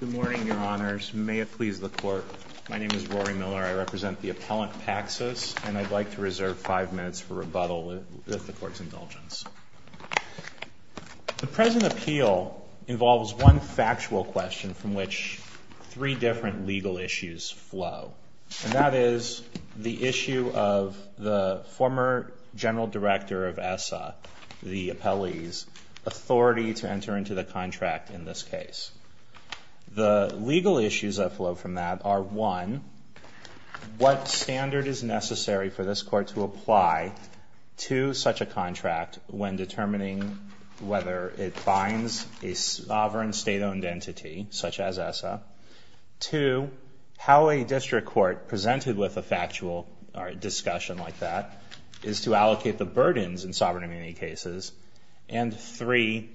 Good morning, Your Honors. May it please the Court, my name is Rory Miller. I represent the Appellant Packsys, and I'd like to reserve five minutes for rebuttal with the Court's indulgence. The present appeal involves one factual question from which three different legal issues flow, and that is the issue of the former General Director of ESSA, the Appellee's Enter into the Contract in this case. The legal issues that flow from that are, one, what standard is necessary for this Court to apply to such a contract when determining whether it binds a sovereign state-owned entity, such as ESSA, two, how a district court presented with a factual discussion like that is to allocate the burdens in sovereign immunity cases, and three,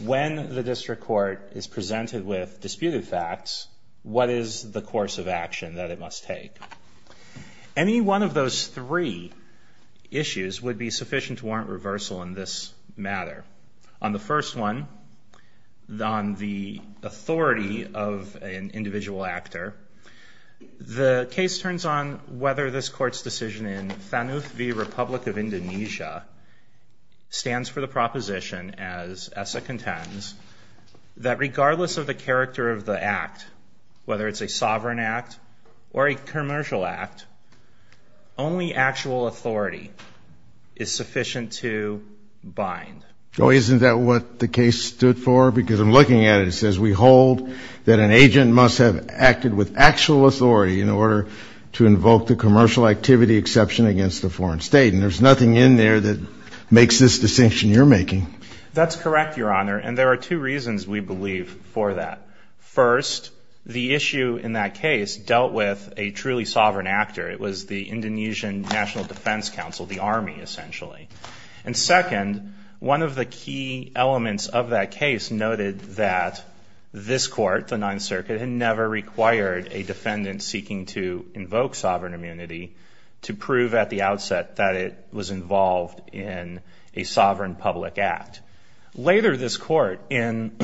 when the district court is presented with disputed facts, what is the course of action that it must take? Any one of those three issues would be sufficient to warrant reversal in this matter. On the first one, on the authority of an individual actor, the case turns on whether this Court's decision in Thanuth v. Republic of Indonesia stands for the proposition, as ESSA contends, that regardless of the character of the act, whether it's a sovereign act or a commercial act, only actual authority is sufficient to bind. Oh, isn't that what the case stood for? Because I'm looking at it. It says, we hold that an agent must have acted with actual authority in order to invoke the commercial activity exception against a foreign state, and there's nothing in there that makes this distinction you're making. That's correct, Your Honor, and there are two reasons, we believe, for that. First, the issue in that case dealt with a truly sovereign actor. It was the Indonesian National Defense Council, the army, essentially. And second, one of the key elements of that case noted that this Court, the Ninth Circuit, had never required a defendant seeking to prove at the outset that it was involved in a sovereign public act. Later, this Court, in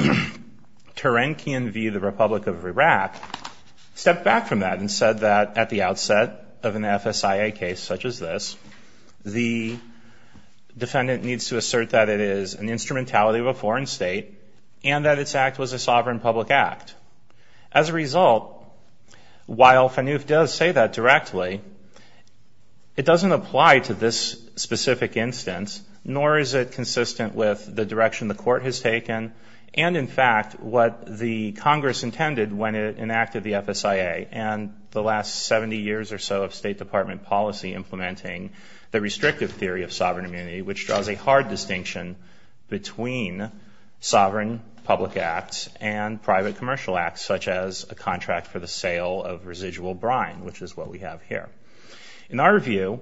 Terankian v. The Republic of Iraq, stepped back from that and said that at the outset of an FSIA case such as this, the defendant needs to assert that it is an instrumentality of a foreign state and that its act was a sovereign public act. As a result, while Fanouf does say that directly, it doesn't apply to this specific instance, nor is it consistent with the direction the Court has taken and, in fact, what the Congress intended when it enacted the FSIA and the last 70 years or so of State Department policy implementing the restrictive theory of sovereign immunity, which draws a hard distinction between sovereign public acts and private commercial acts, such as a contract for the sale of residual brine, which is what we have here. In our view,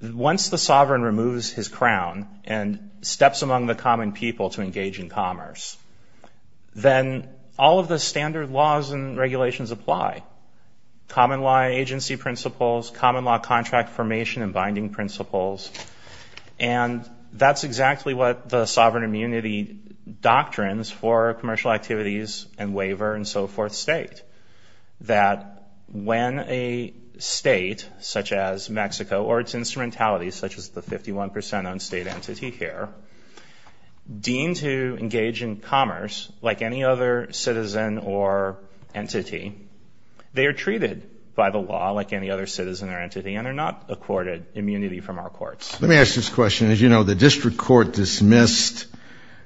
once the sovereign removes his crown and steps among the common people to engage in commerce, then all of the standard laws and regulations apply. Common law agency principles, common law contract formation and binding principles, and that's exactly what the sovereign immunity doctrines for commercial activities and waiver and so forth state, that when a state such as Mexico or its instrumentalities, such as the 51 percent on state entity here, deem to engage in commerce like any other citizen or entity, they are treated by the law like any other citizen or entity and are not accorded immunity from our courts. Let me ask this question. As you know, the district court dismissed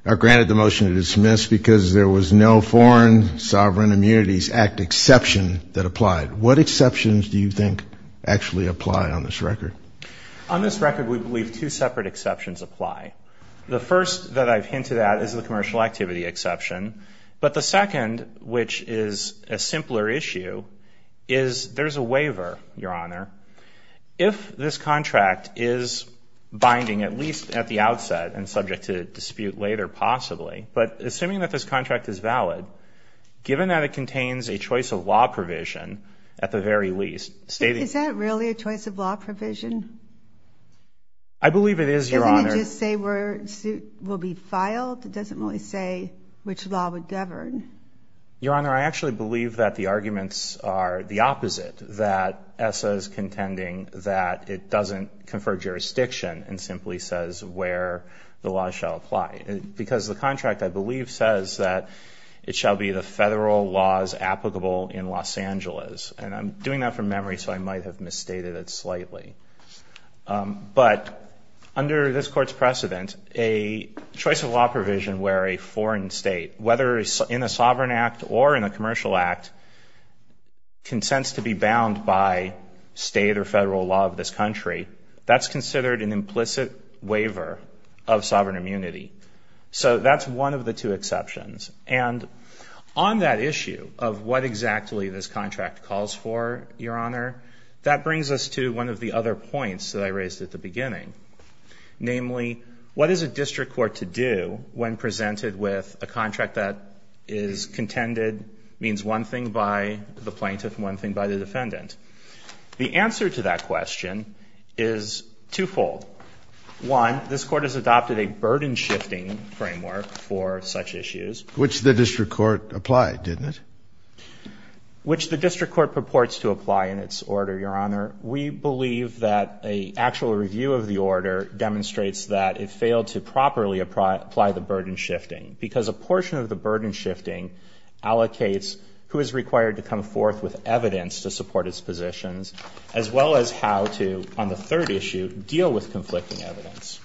or granted the motion to dismiss because there was no Foreign Sovereign Immunities Act exception that applied. What exceptions do you think actually apply on this record? On this record, we believe two separate exceptions apply. The first that I've hinted at is the commercial activity exception. But the second, which is a simpler issue, is there's a waiver, Your Honor. If this contract is binding, at least at the outset and subject to dispute later possibly, but assuming that this contract is valid, given that it contains a choice of law provision, at the very least, stating Is that really a choice of law provision? I believe it is, Your Honor. Doesn't it just say where a suit will be filed? It doesn't really say which law would govern. Your Honor, I actually believe that the arguments are the opposite, that ESSA is contending that it doesn't confer jurisdiction and simply says where the law shall apply. Because the contract, I believe, says that it shall be the federal laws applicable in Los Angeles. And I'm doing that from memory, so I might have misstated it slightly. But under this Court's precedent, a choice of law provision where a foreign state, whether in a sovereign act or in a commercial act, consents to be bound by state or federal law of this country, that's considered an implicit waiver of sovereign immunity. So that's one of the two exceptions. And on that issue of what exactly this contract calls for, Your Honor, that brings us to one of the other points that I raised at the beginning. Namely, what is a district court to do when presented with a contract that is contended, means one thing by the plaintiff, one thing by the defendant? The answer to that question is twofold. One, this Court has adopted a burden-shifting framework for such issues. Which the district court applied, didn't it? Which the district court purports to apply in its order, Your Honor. We believe that a actual review of the order demonstrates that it failed to properly apply the burden-shifting. Because a portion of the burden-shifting allocates who is required to come forth with evidence to support its positions, as well as how to, on the third issue, deal with conflicting evidence.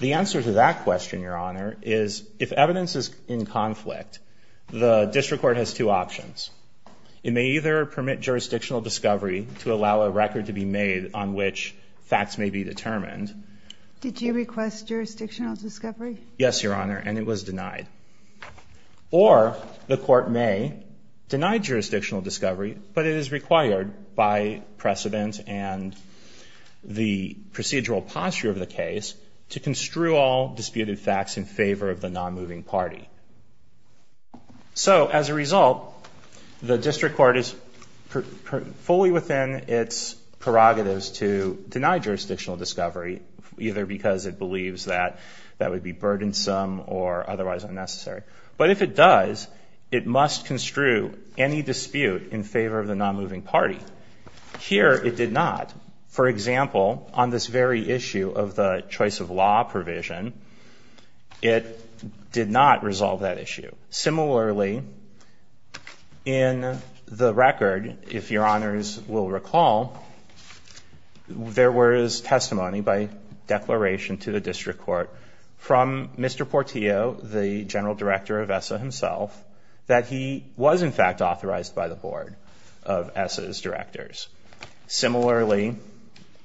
The answer to that question, Your Honor, is if evidence is in conflict, the district court has two options. It may either permit jurisdictional discovery to allow a record to be made on which facts may be determined. Did you request jurisdictional discovery? Yes, Your Honor, and it was denied. Or the court may deny jurisdictional discovery, but it is required by precedent and the procedural posture of the case to construe all disputed facts in favor of the non-moving party. So, as a result, the district court is fully within its prerogatives to deny jurisdictional discovery, either because it believes that that would be burdensome or otherwise unnecessary. But if it does, it must construe any dispute in favor of the non-moving party. Here it did not. For example, on this very issue of the choice of law provision, it did not resolve that issue. Similarly, in the record, if Your Honors will recall, there was testimony by declaration to the district court from Mr. Portillo, the general director of ESSA himself, that he was in fact authorized by the board of ESSA's directors. Similarly,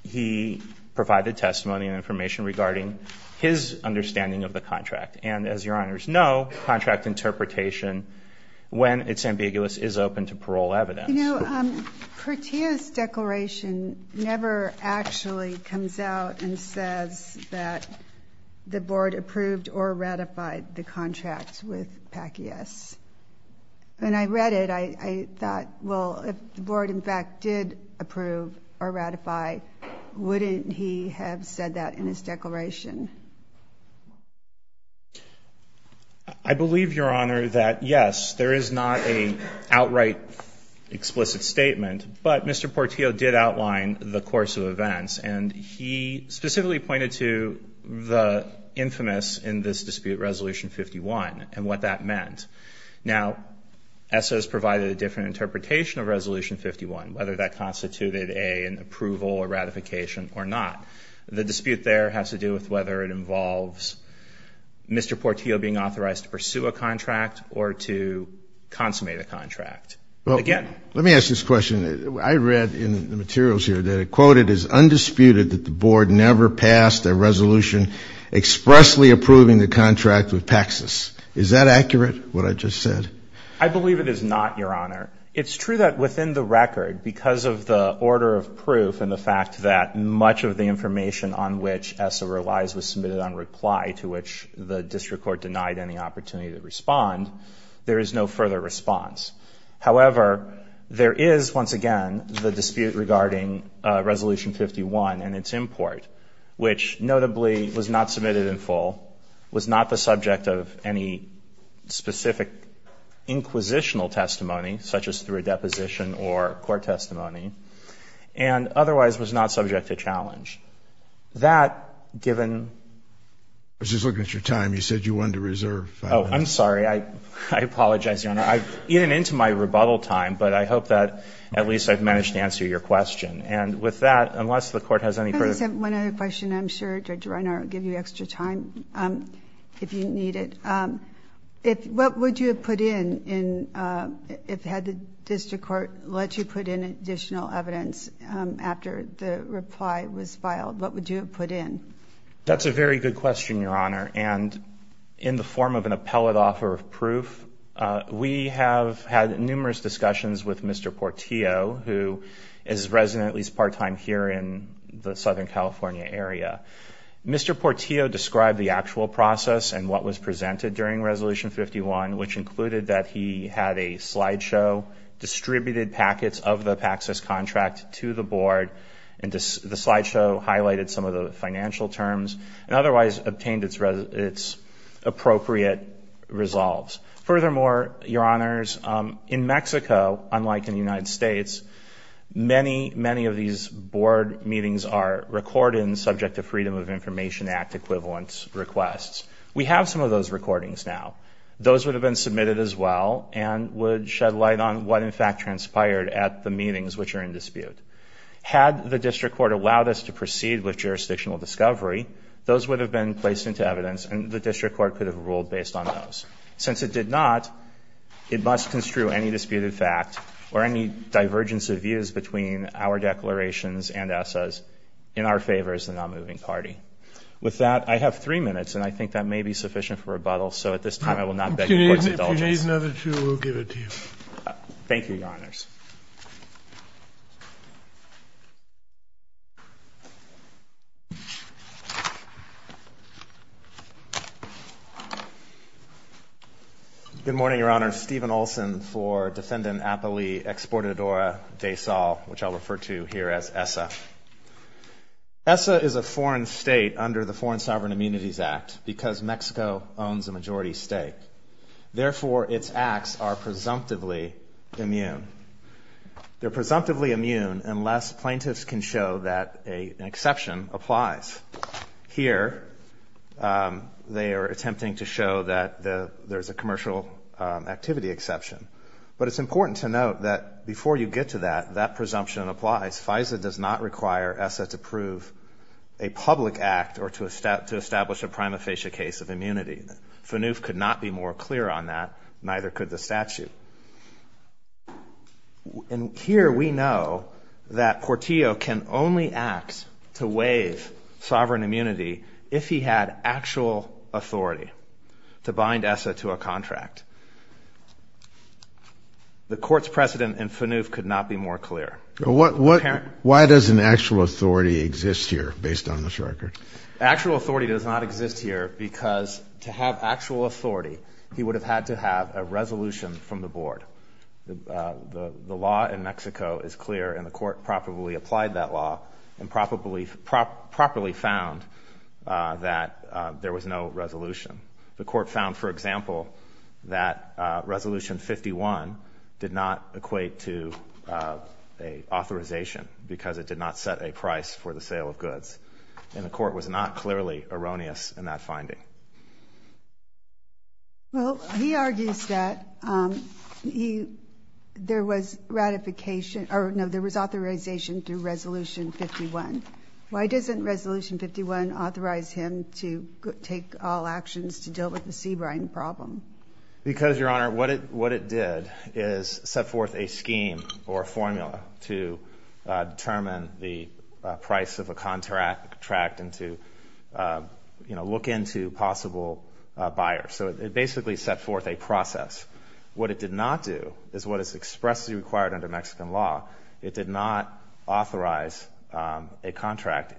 he provided testimony and information regarding his understanding of the contract. And as Your Honors know, contract interpretation, when it's ambiguous, is open to parole evidence. You know, Portillo's declaration never actually comes out and says that the board approved or ratified the contract with PACIAS. When I read it, I thought, well, if the board, in fact, did approve or ratify, wouldn't he have said that in his declaration? I believe, Your Honor, that yes, there is not an outright explicit statement. But Mr. Portillo did outline the course of events, and he specifically pointed to the infamous in this dispute, Resolution 51, and what that meant. Now, ESSA has provided a different interpretation of Resolution 51, whether that constituted an approval or ratification or not. The dispute there has to do with whether it involves Mr. Portillo being authorized to pursue a contract or to consummate a contract. Again. Let me ask this question. I read in the materials here that it quoted as undisputed that the board never passed a resolution expressly approving the contract with PACIAS. Is that accurate, what I just said? I believe it is not, Your Honor. It's true that within the record, because of the order of proof and the fact that much of the information on which ESSA relies was submitted on reply to which the district court denied any opportunity to respond, there is no further response. However, there is, once again, the dispute regarding Resolution 51 and its import, which notably was not submitted in full, was not the subject of any specific inquisitional testimony, such as through a deposition or court testimony, and otherwise was not subject to challenge. That given... I was just looking at your time. You said you wanted to reserve five minutes. Oh, I'm sorry. I apologize, Your Honor. I've eaten into my rebuttal time, but I hope that at least I've managed to answer your question. And with that, unless the Court has any further... I just have one other question. I'm sure Judge Reiner will give you extra time if you need it. What would you have put in if the district court let you put in additional evidence after the reply was filed? What would you have put in? That's a very good question, Your Honor. And in the form of an appellate offer of proof, we have had numerous discussions with Mr. Portillo, who is a resident, at least part-time, here in the Southern California area. Mr. Portillo described the actual process and what was presented during Resolution 51, which included that he had a slideshow, distributed packets of the Paxos contract to the Board, and the slideshow highlighted some of the financial terms, and otherwise obtained its appropriate resolves. Furthermore, Your Honors, in Mexico, unlike in the United States, many, many of these Freedom of Information Act equivalence requests, we have some of those recordings now. Those would have been submitted as well and would shed light on what, in fact, transpired at the meetings which are in dispute. Had the district court allowed us to proceed with jurisdictional discovery, those would have been placed into evidence, and the district court could have ruled based on those. Since it did not, it must construe any disputed fact or any divergence of views between our With that, I have three minutes, and I think that may be sufficient for rebuttal, so at this time, I will not beg the Court's indulgence. If you need another two, we'll give it to you. Thank you, Your Honors. Good morning, Your Honors. Stephen Olson for Defendant Apolli Exportadora de Sal, which I'll refer to here as ESSA. ESSA is a foreign state under the Foreign Sovereign Immunities Act because Mexico owns a majority state. Therefore, its acts are presumptively immune. They're presumptively immune unless plaintiffs can show that an exception applies. Here they are attempting to show that there's a commercial activity exception, but it's important to note that before you get to that, that presumption applies. FISA does not require ESSA to prove a public act or to establish a prima facie case of FNUF could not be more clear on that, neither could the statute. And here we know that Portillo can only act to waive sovereign immunity if he had actual authority to bind ESSA to a contract. The Court's precedent in FNUF could not be more clear. Why does an actual authority exist here based on this record? Actual authority does not exist here because to have actual authority, he would have had to have a resolution from the Board. The law in Mexico is clear and the Court properly applied that law and properly found that there was no resolution. The Court found, for example, that Resolution 51 did not equate to an authorization because it did not set a price for the sale of goods, and the Court was not clearly erroneous in that finding. Well, he argues that there was ratification, or no, there was authorization to Resolution 51. Why doesn't Resolution 51 authorize him to take all actions to deal with the Sebring problem? Because Your Honor, what it did is set forth a scheme or a formula to determine the price of a contract and to, you know, look into possible buyers. So it basically set forth a process. What it did not do is what is expressly required under Mexican law. It did not authorize a contract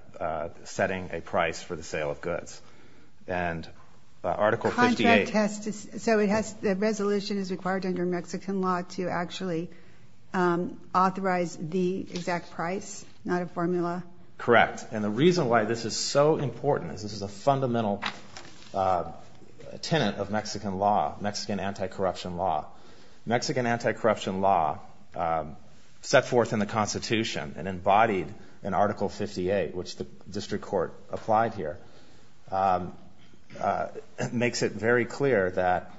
setting a price for the sale of goods. And Article 58... Contract has to... So it has... The resolution is required under Mexican law to actually authorize the exact price, not a formula? Correct. And the reason why this is so important is this is a fundamental tenet of Mexican law, Mexican anti-corruption law. Mexican anti-corruption law set forth in the Constitution and embodied in Article 58, which the District Court applied here, makes it very clear that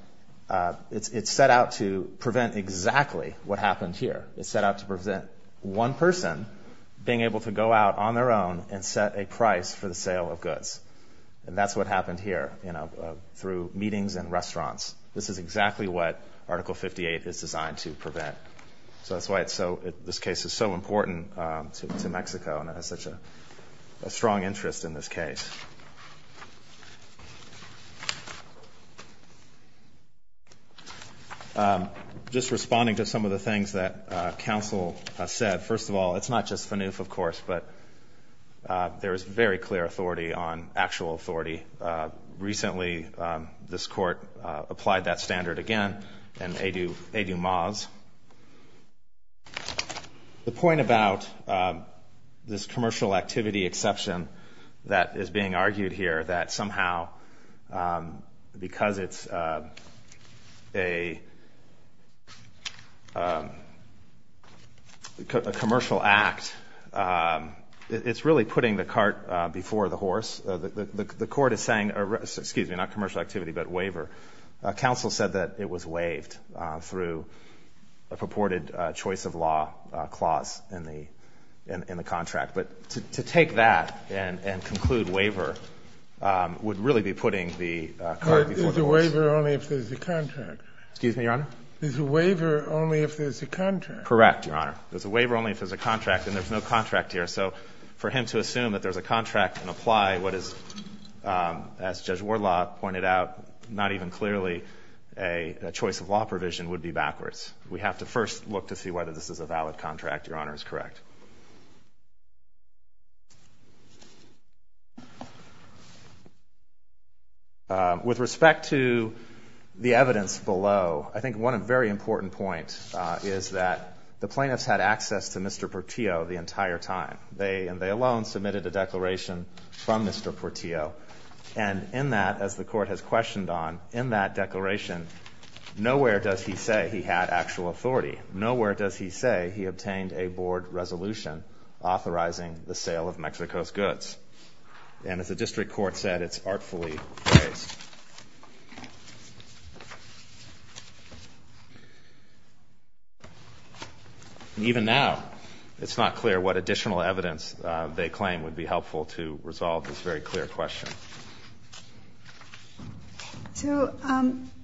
it's set out to prevent exactly what happened here. It's set out to prevent one person being able to go out on their own and set a price for the sale of goods. And that's what happened here, you know, through meetings and restaurants. This is exactly what Article 58 is designed to prevent. So that's why it's so... This case is so important to Mexico and has such a strong interest in this case. Just responding to some of the things that counsel said. First of all, it's not just FANUF, of course, but there is very clear authority on actual authority. Recently, this Court applied that standard again in EduMAS. The point about this commercial activity exception that is being argued here that somehow, because it's a commercial act, it's really putting the cart before the horse. The Court is saying, excuse me, not commercial activity, but waiver. Counsel said that it was waived through a purported choice-of-law clause in the contract. But to take that and conclude waiver would really be putting the cart before the horse. Is a waiver only if there's a contract? Excuse me, Your Honor? Is a waiver only if there's a contract? Correct, Your Honor. There's a waiver only if there's a contract, and there's no contract here. So for him to assume that there's a contract and apply what is, as Judge Warlaw pointed out, not even clearly, a choice-of-law provision would be backwards. We have to first look to see whether this is a valid contract, Your Honor, is correct. With respect to the evidence below, I think one very important point is that the plaintiffs had access to Mr. Portillo the entire time. They alone submitted a declaration from Mr. Portillo. And in that, as the Court has questioned on, in that declaration, nowhere does he say he had actual authority. Nowhere does he say he obtained a board resolution authorizing the sale of Mexico's goods. And as the District Court said, it's artfully phrased. And even now, it's not clear what additional evidence they claim would be helpful to resolve this very clear question. So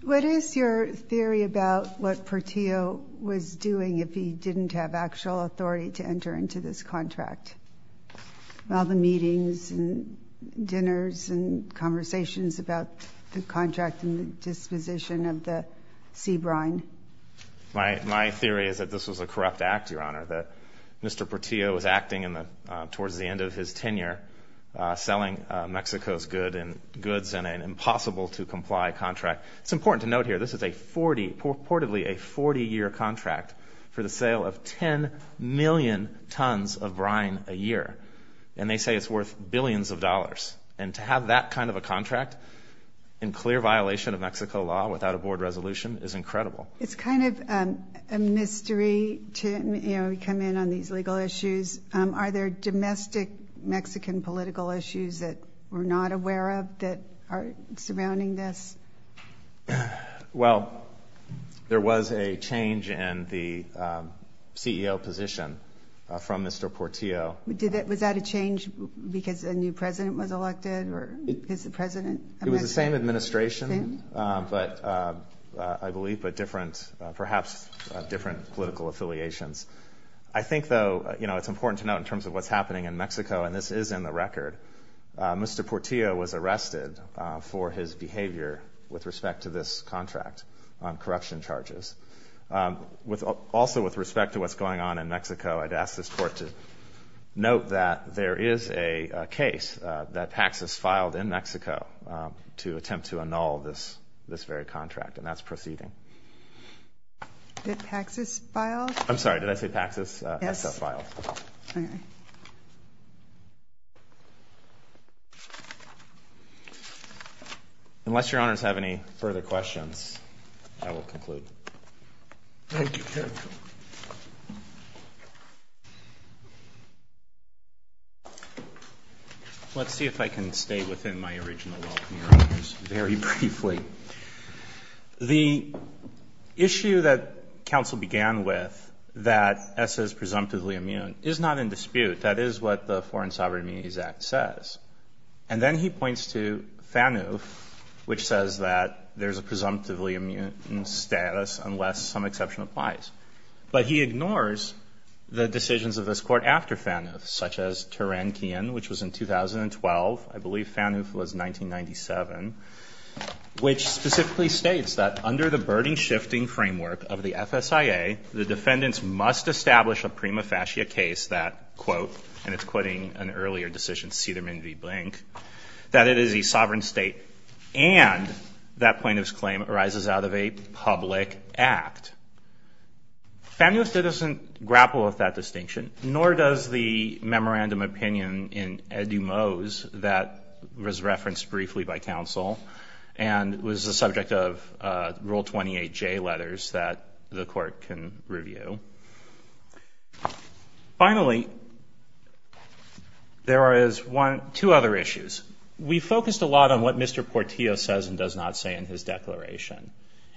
what is your theory about what Portillo was doing if he didn't have actual authority to enter into this contract? All the meetings and dinners and conversations about the contract and disposition of the sea brine. My theory is that this was a corrupt act, Your Honor, that Mr. Portillo was acting towards the end of his tenure selling Mexico's goods in an impossible-to-comply contract. It's important to note here, this is a 40, purportedly a 40-year contract for the sale of 10 million tons of brine a year. And they say it's worth billions of dollars. And to have that kind of a contract in clear violation of Mexico law without a board resolution is incredible. It's kind of a mystery, Tim, you know, you come in on these legal issues. Are there domestic Mexican political issues that we're not aware of that are surrounding this? Well, there was a change in the CEO position from Mr. Portillo. Was that a change because a new president was elected or is the president a Mexican? It was the same administration, I believe, but perhaps different political affiliations. I think, though, it's important to note in terms of what's happening in Mexico, and this with respect to this contract on corruption charges, also with respect to what's going on in Mexico, I'd ask this Court to note that there is a case that Paxos filed in Mexico to attempt to annul this very contract, and that's proceeding. Did Paxos file? I'm sorry, did I say Paxos? Yes. Paxos filed. Okay. Thank you. Unless your Honors have any further questions, I will conclude. Let's see if I can stay within my original welcome, Your Honors, very briefly. Thank you. The issue that counsel began with, that ESA is presumptively immune, is not in dispute. That is what the Foreign Sovereign Immunities Act says. And then he points to FANUF, which says that there's a presumptively immune status unless some exception applies. But he ignores the decisions of this Court after FANUF, such as Tarantino, which was in 2012. I believe FANUF was 1997, which specifically states that under the burden-shifting framework of the FSIA, the defendants must establish a prima facie case that, and it's quoting an earlier decision, Cederman v. Blank, that it is a sovereign state, and that plaintiff's claim arises out of a public act. FANUF doesn't grapple with that distinction, nor does the memorandum opinion in edumos that was referenced briefly by counsel and was the subject of Rule 28J letters that the Court can review. Finally, there are two other issues. We focused a lot on what Mr. Portillo says and does not say in his declaration.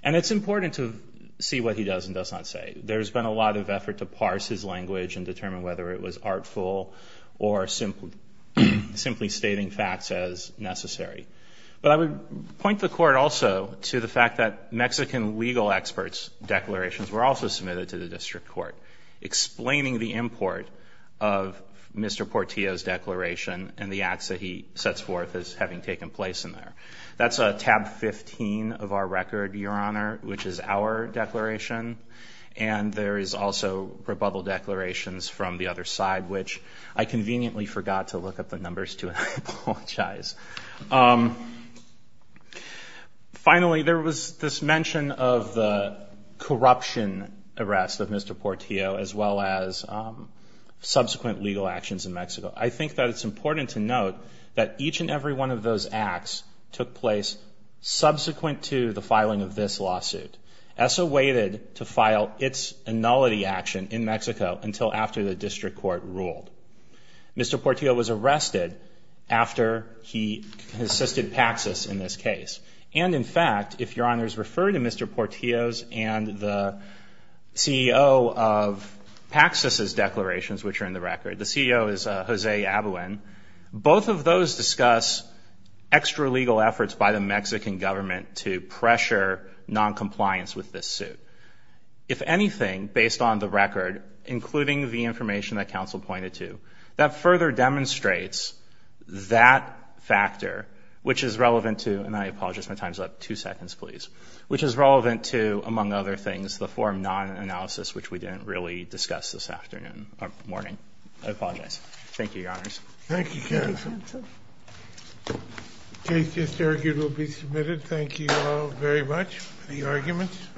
And it's important to see what he does and does not say. There's been a lot of effort to parse his language and determine whether it was artful or simply stating facts as necessary. But I would point the Court also to the fact that Mexican legal experts' declarations were also submitted to the District Court, explaining the import of Mr. Portillo's declaration and the acts that he sets forth as having taken place in there. That's tab 15 of our record, Your Honor, which is our declaration. And there is also rebuttal declarations from the other side, which I conveniently forgot to look up the numbers to, and I apologize. Finally, there was this mention of the corruption arrest of Mr. Portillo, as well as subsequent legal actions in Mexico. I think that it's important to note that each and every one of those acts took place subsequent to the filing of this lawsuit. ESSA waited to file its annulity action in Mexico until after the District Court ruled. Mr. Portillo was arrested after he assisted Paxos in this case. And in fact, if Your Honors refer to Mr. Portillo's and the CEO of Paxos's declarations, which are in the record, the CEO is Jose Abuin. Both of those discuss extralegal efforts by the Mexican government to pressure noncompliance with this suit. If anything, based on the record, including the information that counsel pointed to, that further demonstrates that factor, which is relevant to, and I apologize, my time's up. Two seconds, please. Which is relevant to, among other things, the form non-analysis, which we didn't really discuss this afternoon, or morning. I apologize. Thank you, Your Honors. Thank you, counsel. Thank you, counsel. The case just argued will be submitted. Thank you all very much for the arguments.